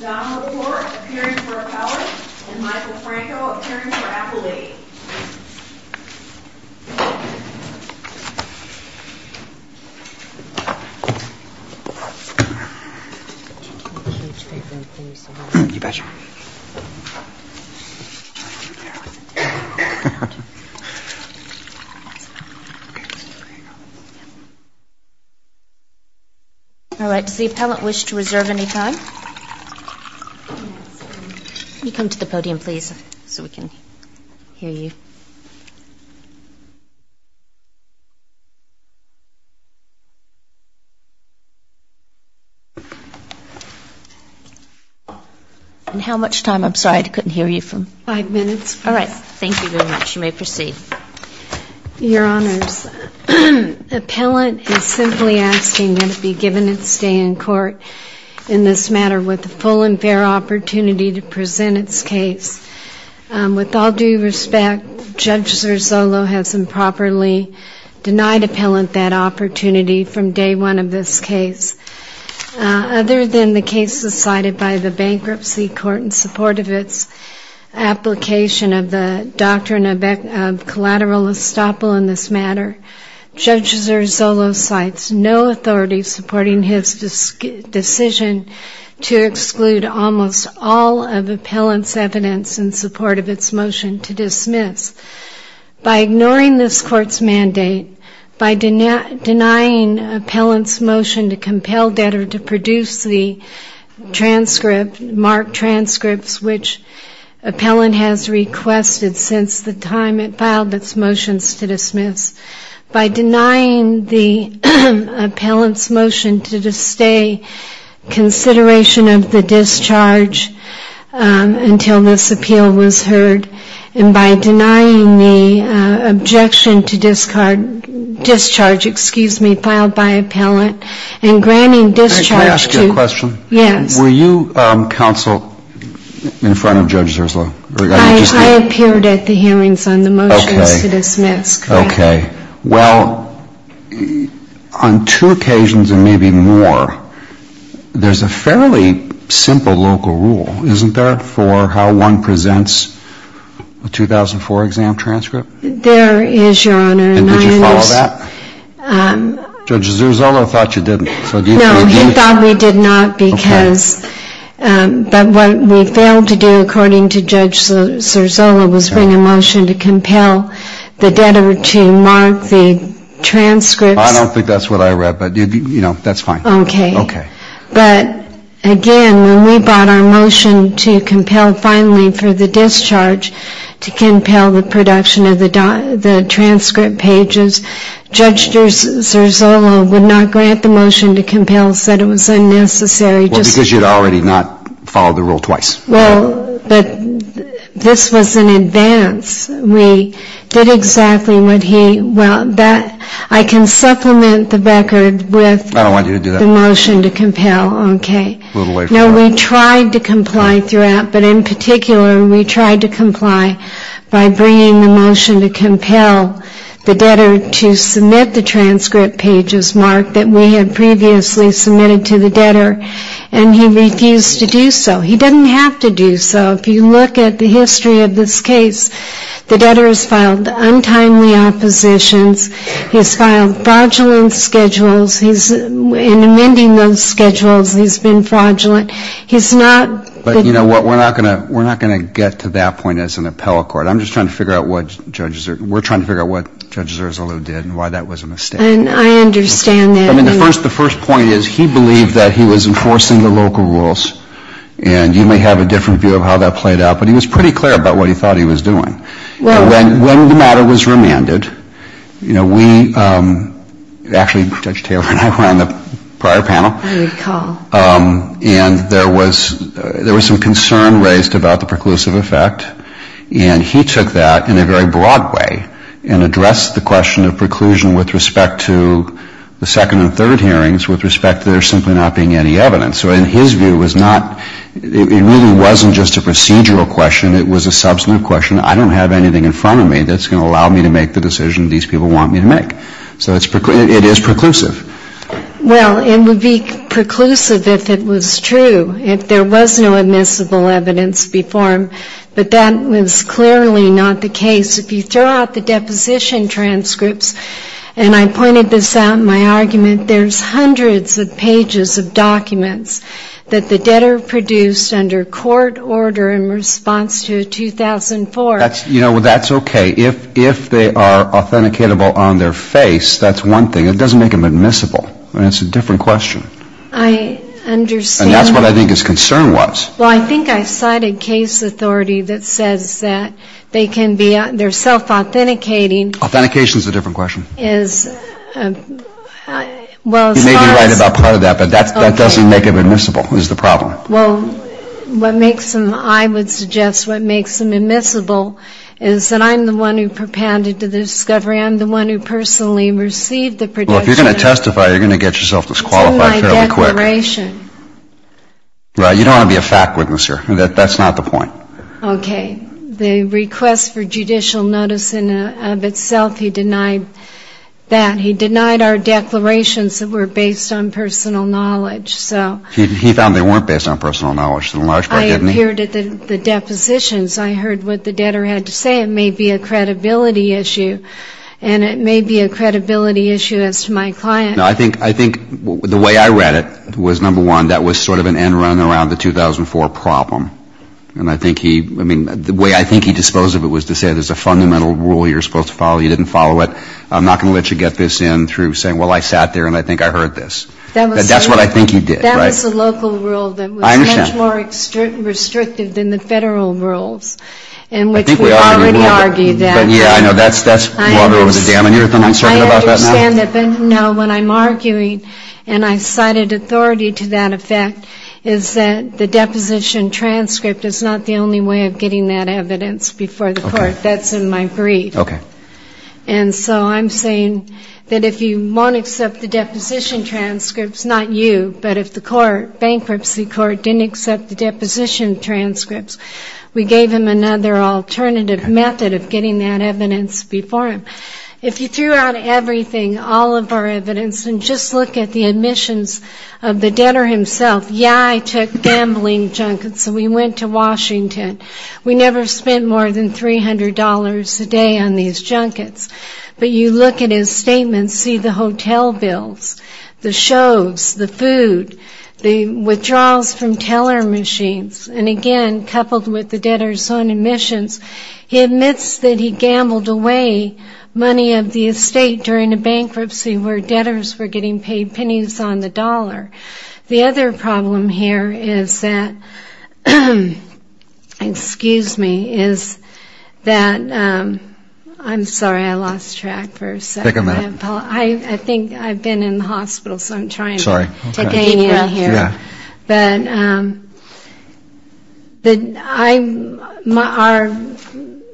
Don LaPorte appearing for Appellate and Michael Franco appearing for Appellate. All right. Does the Appellate wish to reserve any time? You come to the podium, please, so we can hear you. And how much time? I'm sorry, I couldn't hear you for five minutes. All right. Thank you very much. You may proceed. Your Honors, Appellant is simply asking that it be given its day in court in this matter with the full and fair opportunity to present its case. With all due respect, Judge Zerzullo has improperly denied Appellant that opportunity from day one of this case. Other than the cases cited by the Bankruptcy Court in support of its application of the Doctrine of Collateral Estoppel in this matter, Judge Zerzullo cites no authority supporting his decision to exclude almost all of Appellant's evidence in support of its motion to dismiss. By ignoring this Court's mandate, by denying Appellant's motion to compel debtor to produce the transcript, marked transcripts which Appellant has requested since the time it filed its motions to dismiss, by denying the Appellant's motion to disdain consideration of the discharge until this appeal was heard, and by denying the objection to discharge, excuse me, filed by Appellant, and granting discharge to... May I ask you a question? Yes. Were you counsel in front of Judge Zerzullo? I appeared at the hearings on the motions to dismiss. Okay. Well, on two occasions and maybe more, there's a fairly simple local rule, isn't there, for how one presents a 2004 exam transcript? There is, Your Honor. And did you follow that? Judge Zerzullo thought you didn't. No, he thought we did not because what we failed to do, according to Judge Zerzullo, was bring a motion to compel the debtor to mark the transcripts. I don't think that's what I read, but that's fine. Okay. Okay. But, again, when we brought our motion to compel finally for the discharge, to compel the production of the transcript pages, Judge Zerzullo would not grant the motion to compel, said it was unnecessary. Well, because you had already not followed the rule twice. Well, but this was in advance. We did exactly what he wanted. I can supplement the record with... I don't want you to do that. ...the motion to compel. Okay. No, we tried to comply throughout. But, in particular, we tried to comply by bringing the motion to compel the debtor to submit the transcript pages, Mark, that we had previously submitted to the debtor. And he refused to do so. He didn't have to do so. If you look at the history of this case, the debtor has filed untimely oppositions. He has filed fraudulent schedules. In amending those schedules, he's been fraudulent. He's not... But, you know what, we're not going to get to that point as an appellate court. I'm just trying to figure out what Judge Zerzullo did and why that was a mistake. I understand that. I mean, the first point is he believed that he was enforcing the local rules. And you may have a different view of how that played out. But he was pretty clear about what he thought he was doing. When the matter was remanded, you know, we... Actually, Judge Taylor and I were on the prior panel. I recall. And there was some concern raised about the preclusive effect. And he took that in a very broad way and addressed the question of preclusion with respect to the second and third hearings with respect to there simply not being any evidence. So, in his view, it really wasn't just a procedural question. It was a substantive question. I don't have anything in front of me that's going to allow me to make the decision these people want me to make. So it is preclusive. Well, it would be preclusive if it was true, if there was no admissible evidence before him. But that was clearly not the case. If you throw out the deposition transcripts, and I pointed this out in my argument, there's hundreds of pages of documents that the debtor produced under court order in response to 2004. You know, that's okay. If they are authenticatable on their face, that's one thing. It doesn't make them admissible. I mean, it's a different question. I understand. And that's what I think his concern was. Well, I think I cited case authority that says that they can be, they're self-authenticating. Authentication is a different question. You may be right about part of that, but that doesn't make them admissible is the problem. Well, what makes them, I would suggest, what makes them admissible is that I'm the one who propounded the discovery. I'm the one who personally received the protection. Well, if you're going to testify, you're going to get yourself disqualified fairly quick. It's in my declaration. Right. You don't want to be a fact witness here. That's not the point. Okay. The request for judicial notice in and of itself, he denied that. He denied our declarations that were based on personal knowledge. He found they weren't based on personal knowledge to a large part, didn't he? I appeared at the depositions. I heard what the debtor had to say. It may be a credibility issue, and it may be a credibility issue as to my client. No, I think the way I read it was, number one, that was sort of an end run around the 2004 problem. And I think he, I mean, the way I think he disposed of it was to say, there's a fundamental rule you're supposed to follow. You didn't follow it. I'm not going to let you get this in through saying, well, I sat there and I think I heard this. That's what I think he did, right? That was a local rule that was much more restrictive than the federal rules in which we already argue that. Yeah, I know. That's water over the dam. And you're the one talking about that now? No, what I'm arguing, and I cited authority to that effect, is that the deposition transcript is not the only way of getting that evidence before the court. That's in my brief. Okay. And so I'm saying that if you won't accept the deposition transcripts, not you, but if the court, bankruptcy court, didn't accept the deposition transcripts, we gave him another alternative method of getting that evidence before him. If you threw out everything, all of our evidence, and just look at the admissions of the debtor himself, yeah, I took gambling junkets, and we went to Washington. We never spent more than $300 a day on these junkets. But you look at his statements, see the hotel bills, the shows, the food, the withdrawals from teller machines. And again, coupled with the debtor's own admissions, he admits that he gambled away money of the estate during a bankruptcy where debtors were getting paid pennies on the dollar. The other problem here is that, excuse me, is that, I'm sorry, I lost track. Take a minute. I think I've been in the hospital, so I'm trying to take anything out here. But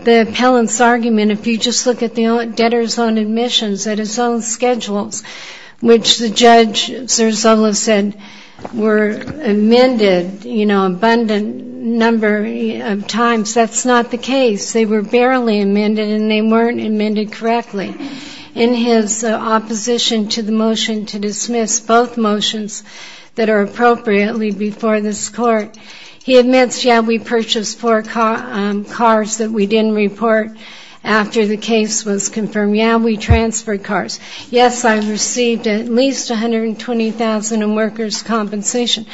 the appellant's argument, if you just look at the debtor's own admissions, at his own schedules, which the judge, Cerzullo, said were amended, you know, abundant number of times, that's not the case. They were barely amended, and they weren't amended correctly. In his opposition to the motion to dismiss both motions that are appropriate, he admits, yeah, we purchased four cars that we didn't report after the case was confirmed. Yeah, we transferred cars. Yes, I received at least $120,000 in workers' compensation.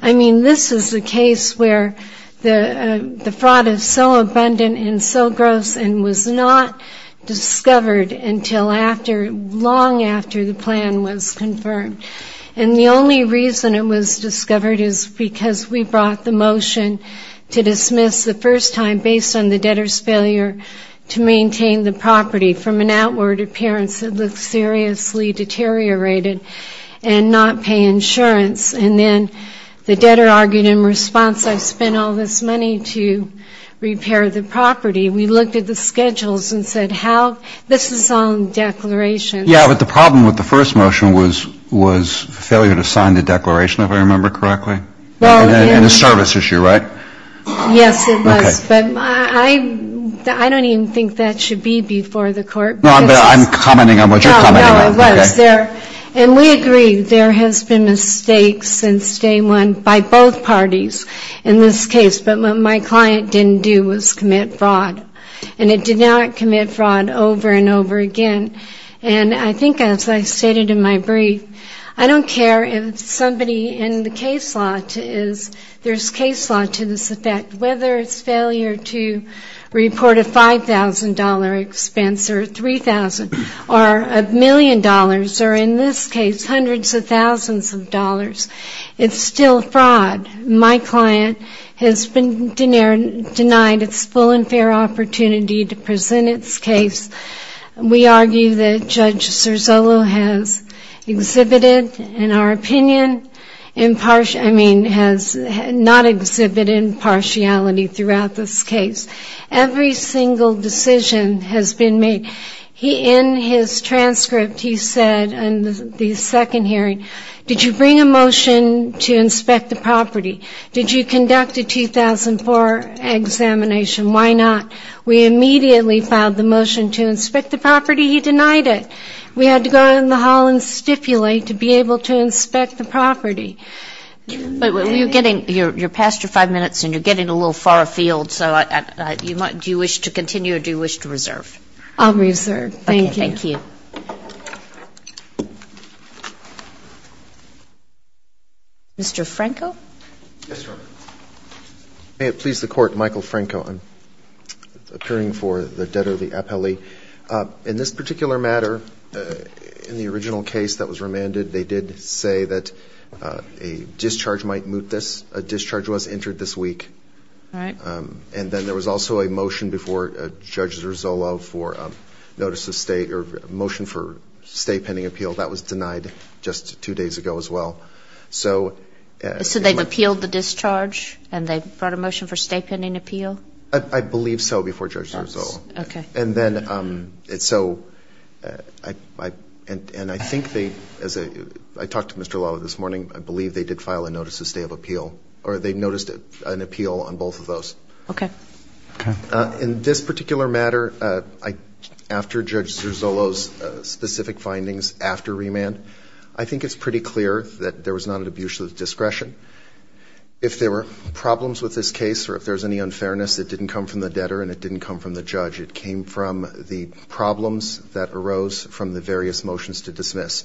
I mean, this is a case where the fraud is so abundant and so gross and was not discovered until long after the plan was confirmed. And the only reason it was discovered is because we brought the motion to dismiss the first time based on the debtor's failure to maintain the property from an outward appearance that looked seriously deteriorated and not pay insurance. And then the debtor argued in response, I spent all this money to repair the property. We looked at the schedules and said, how this is on declaration. Yeah, but the problem with the first motion was failure to sign the declaration, if I remember correctly. And a service issue, right? Yes, it was. But I don't even think that should be before the court. No, but I'm commenting on what you're commenting on. No, no, it was. And we agree there has been mistakes since day one by both parties in this case. But what my client didn't do was commit fraud. And it did not commit fraud over and over again. And I think as I stated in my brief, I don't care if somebody in the case law is, there's case law to this effect, whether it's failure to report a $5,000 expense or $3,000 or a million dollars or in this case hundreds of thousands of dollars, it's still fraud. My client has been denied its full and fair opportunity to present its case. We argue that Judge Serzolo has exhibited, in our opinion, impartial, I mean, has not exhibited impartiality throughout this case. Every single decision has been made. In his transcript, he said in the second hearing, did you bring a motion to inspect the property? Did you conduct a 2004 examination? Why not? We immediately filed the motion to inspect the property. He denied it. We had to go out in the hall and stipulate to be able to inspect the property. But you're getting, you're past your five minutes and you're getting a little far afield. So do you wish to continue or do you wish to reserve? I'll reserve. Thank you. Thank you. Mr. Franco? Yes, ma'am. May it please the Court, Michael Franco. I'm appearing for the debtor, the appellee. In this particular matter, in the original case that was remanded, they did say that a discharge might moot this. A discharge was entered this week. All right. And then there was also a motion before Judge Serzolo for notice of stay or motion for stay pending appeal. That was denied just two days ago as well. So they've appealed the discharge and they've brought a motion for stay pending appeal? I believe so before Judge Serzolo. Okay. And then so I think they, as I talked to Mr. Lala this morning, I believe they did file a notice of stay of appeal or they noticed an appeal on both of those. Okay. In this particular matter, after Judge Serzolo's specific findings after remand, I think it's pretty clear that there was not an abuse of discretion. If there were problems with this case or if there was any unfairness, it didn't come from the debtor and it didn't come from the judge. It came from the problems that arose from the various motions to dismiss.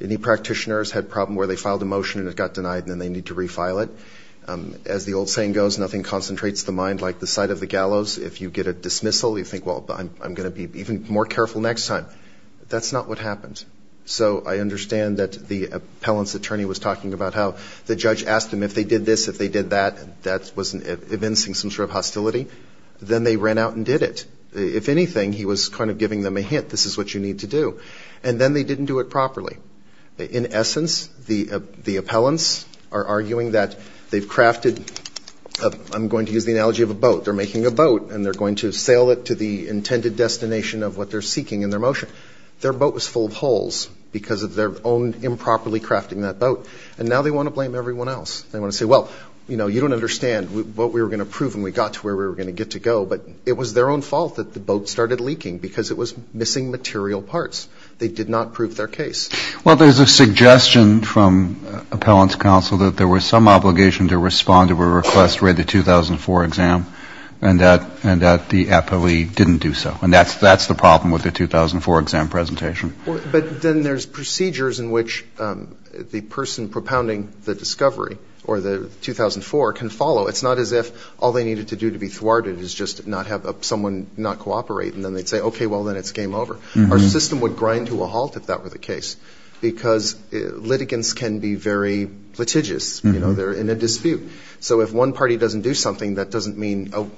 Any practitioners had a problem where they filed a motion and it got denied and then they need to refile it. As the old saying goes, nothing concentrates the mind like the sight of the gallows. If you get a dismissal, you think, well, I'm going to be even more careful next time. That's not what happened. So I understand that the appellant's attorney was talking about how the judge asked him if they did this, if they did that, that was evincing some sort of hostility. Then they ran out and did it. If anything, he was kind of giving them a hint. This is what you need to do. And then they didn't do it properly. In essence, the appellants are arguing that they've crafted, I'm going to use the analogy of a boat. They're making a boat and they're going to sail it to the intended destination of what they're seeking in their motion. Their boat was full of holes because of their own improperly crafting that boat. And now they want to blame everyone else. They want to say, well, you don't understand what we were going to prove when we got to where we were going to get to go. But it was their own fault that the boat started leaking because it was missing material parts. They did not prove their case. Well, there's a suggestion from appellant's counsel that there was some obligation to respond to a request for the 2004 exam and that the appellee didn't do so. And that's the problem with the 2004 exam presentation. But then there's procedures in which the person propounding the discovery or the 2004 can follow. It's not as if all they needed to do to be thwarted is just not have someone not cooperate and then they'd say, okay, well, then it's game over. Our system would grind to a halt if that were the case because litigants can be very litigious. They're in a dispute. So if one party doesn't do something, that doesn't mean, oh,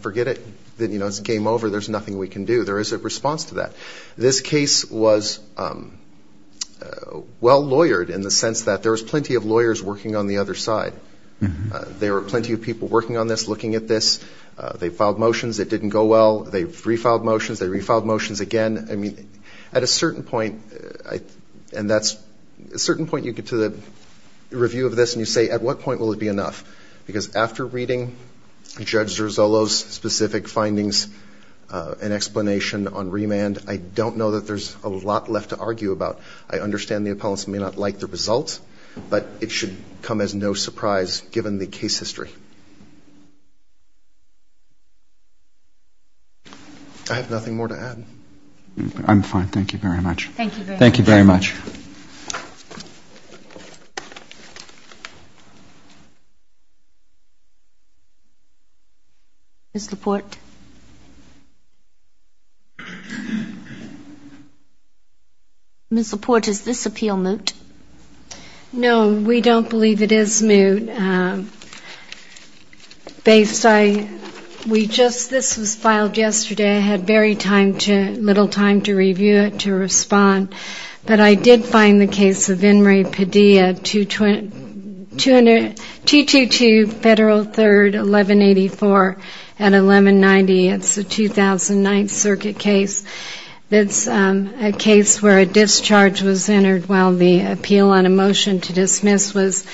forget it. It's game over. There's nothing we can do. There is a response to that. This case was well-lawyered in the sense that there was plenty of lawyers working on the other side. There were plenty of people working on this, looking at this. They filed motions that didn't go well. They refiled motions. They refiled motions again. At a certain point, and that's a certain point you get to the review of this and you say, at what point will it be enough? Because after reading Judge Zerzullo's specific findings and explanation on remand, I don't know that there's a lot left to argue about. I understand the appellants may not like the results, but it should come as no surprise given the case history. I have nothing more to add. I'm fine. Thank you very much. Thank you very much. Thank you very much. Ms. Laporte. Ms. Laporte, is this appeal moot? No, we don't believe it is moot. This was filed yesterday. I had very little time to review it, to respond. But I did find the case of Inmari Padilla, 222 Federal 3rd, 1184 at 1190. It's a 2009 circuit case. It's a case where a discharge was entered while the appeal on a motion to dismiss was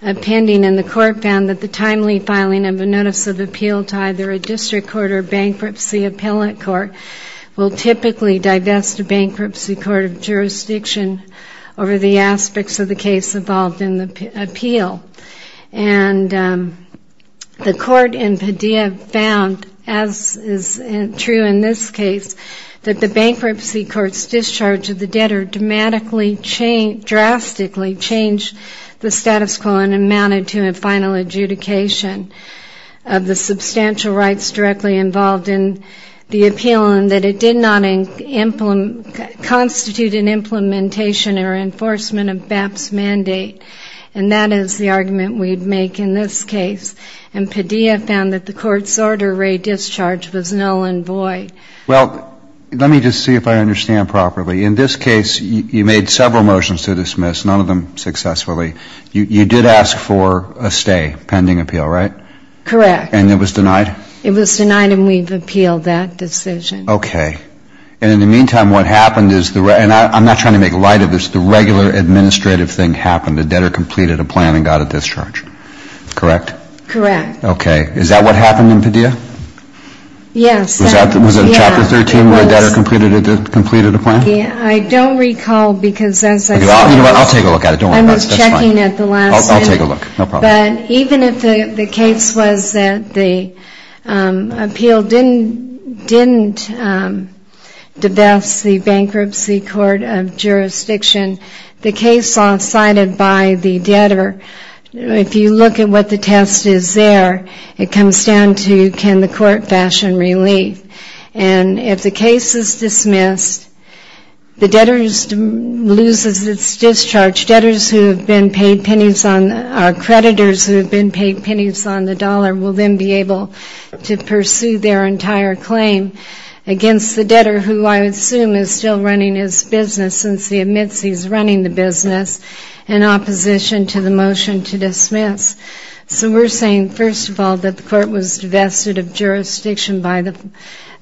pending, and the court found that the timely filing of a notice of appeal to either a district court or a bankruptcy appellant court will typically divest a bankruptcy court of jurisdiction over the aspects of the case involved in the appeal. And the court in Padilla found, as is true in this case, that the bankruptcy court's discharge of the debtor drastically changed the status quo and amounted to a final adjudication of the substantial rights directly involved in the appeal and that it did not constitute an implementation or enforcement of BAP's mandate. And that is the argument we'd make in this case. And Padilla found that the court's order of discharge was null and void. Well, let me just see if I understand properly. In this case, you made several motions to dismiss, none of them successfully. You did ask for a stay pending appeal, right? Correct. And it was denied? It was denied, and we've appealed that decision. Okay. And in the meantime, what happened is the regular administrative thing happened. The debtor completed a plan and got a discharge. Correct? Correct. Okay. Is that what happened in Padilla? Yes. Was it Chapter 13 where the debtor completed a plan? I don't recall, because as I said, I was checking. I'll take a look. No problem. But even if the case was that the appeal didn't divest the bankruptcy court of jurisdiction, the case law cited by the debtor, if you look at what the test is there, it comes down to can the court fashion relief. And if the case is dismissed, the debtor loses its discharge. Debtors who have been paid pennies on the dollar will then be able to pursue their entire claim against the debtor, who I assume is still running his business since he admits he's running the business, in opposition to the motion to dismiss. So we're saying, first of all, that the court was divested of jurisdiction by the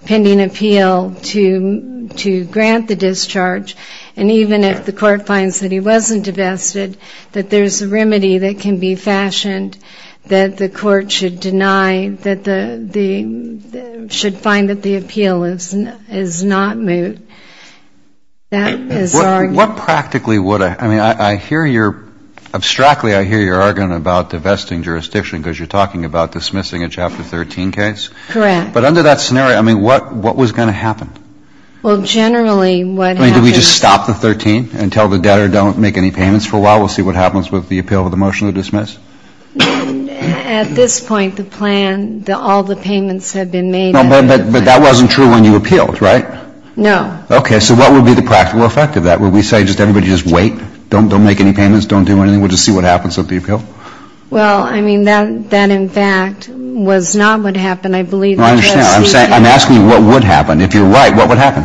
pending appeal to grant the discharge. And even if the court finds that he wasn't divested, that there's a remedy that can be fashioned that the court should deny that the ‑‑ should find that the appeal is not moot. What practically would a ‑‑ I mean, I hear your ‑‑ abstractly I hear your argument about divesting jurisdiction, because you're talking about dismissing a Chapter 13 case. Correct. But under that scenario, I mean, what was going to happen? Well, generally what happens ‑‑ I mean, did we just stop the 13 and tell the debtor don't make any payments for a while? We'll see what happens with the appeal of the motion to dismiss. At this point, the plan, all the payments have been made. But that wasn't true when you appealed, right? No. Okay. So what would be the practical effect of that? Would we say just everybody just wait? Don't make any payments. Don't do anything. We'll just see what happens with the appeal? Well, I mean, that in fact was not what happened. I believe the address is ‑‑ I understand. I'm asking you what would happen. If you're right, what would happen?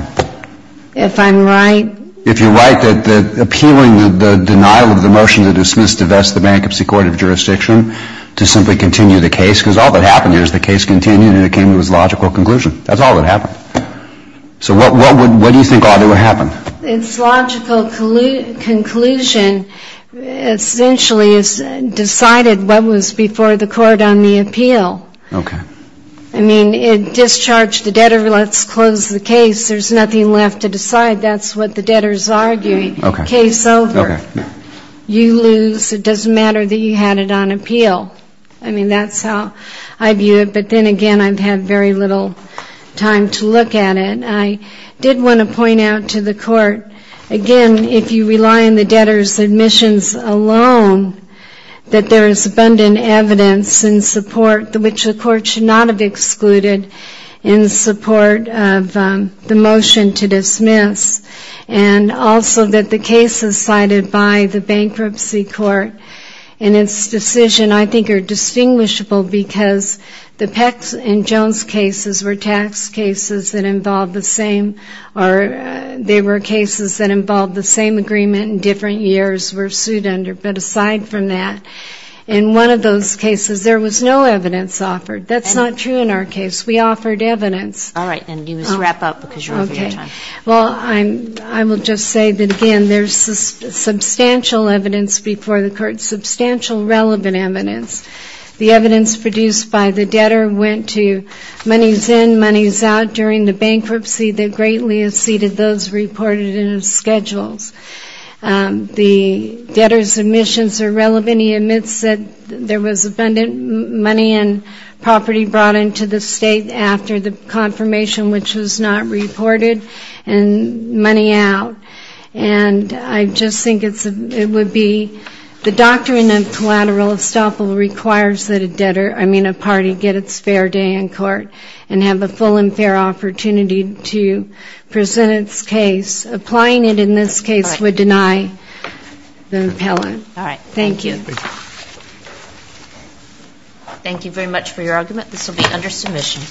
If I'm right? If you're right, that appealing the denial of the motion to dismiss, divest the Bankruptcy Court of Jurisdiction to simply continue the case, because all that happened here is the case continued and it came to its logical conclusion. That's all that happened. So what do you think ought to have happened? Its logical conclusion essentially is decided what was before the court on the appeal. Okay. I mean, it discharged the debtor, let's close the case. There's nothing left to decide. That's what the debtor is arguing. Okay. Case over. Okay. You lose. It doesn't matter that you had it on appeal. I mean, that's how I view it. But then again, I've had very little time to look at it. I did want to point out to the court, again, if you rely on the debtor's admissions alone, that there is abundant evidence in support which the court should not have excluded in support of the motion to dismiss. And also that the cases cited by the Bankruptcy Court in its decision I think are distinguishable because the Peck and Jones cases were tax cases that involved the same or they were cases that involved the same agreement and different years were sued under. But aside from that, in one of those cases there was no evidence offered. That's not true in our case. We offered evidence. All right. Then you must wrap up because you're over your time. Okay. Well, I will just say that, again, there's substantial evidence before the court, substantial relevant evidence. The evidence produced by the debtor went to monies in, monies out during the bankruptcy that greatly exceeded those reported in the schedules. The debtor's admissions are relevant. He admits that there was abundant money and property brought into the state after the confirmation which was not reported and money out. And I just think it would be the doctrine of collateral estoppel requires that a debtor, I mean a party, get its fair day in court and have the full and fair opportunity to present its case. Applying it in this case would deny the appellant. All right. Thank you. Thank you very much for your argument. This will be under submission.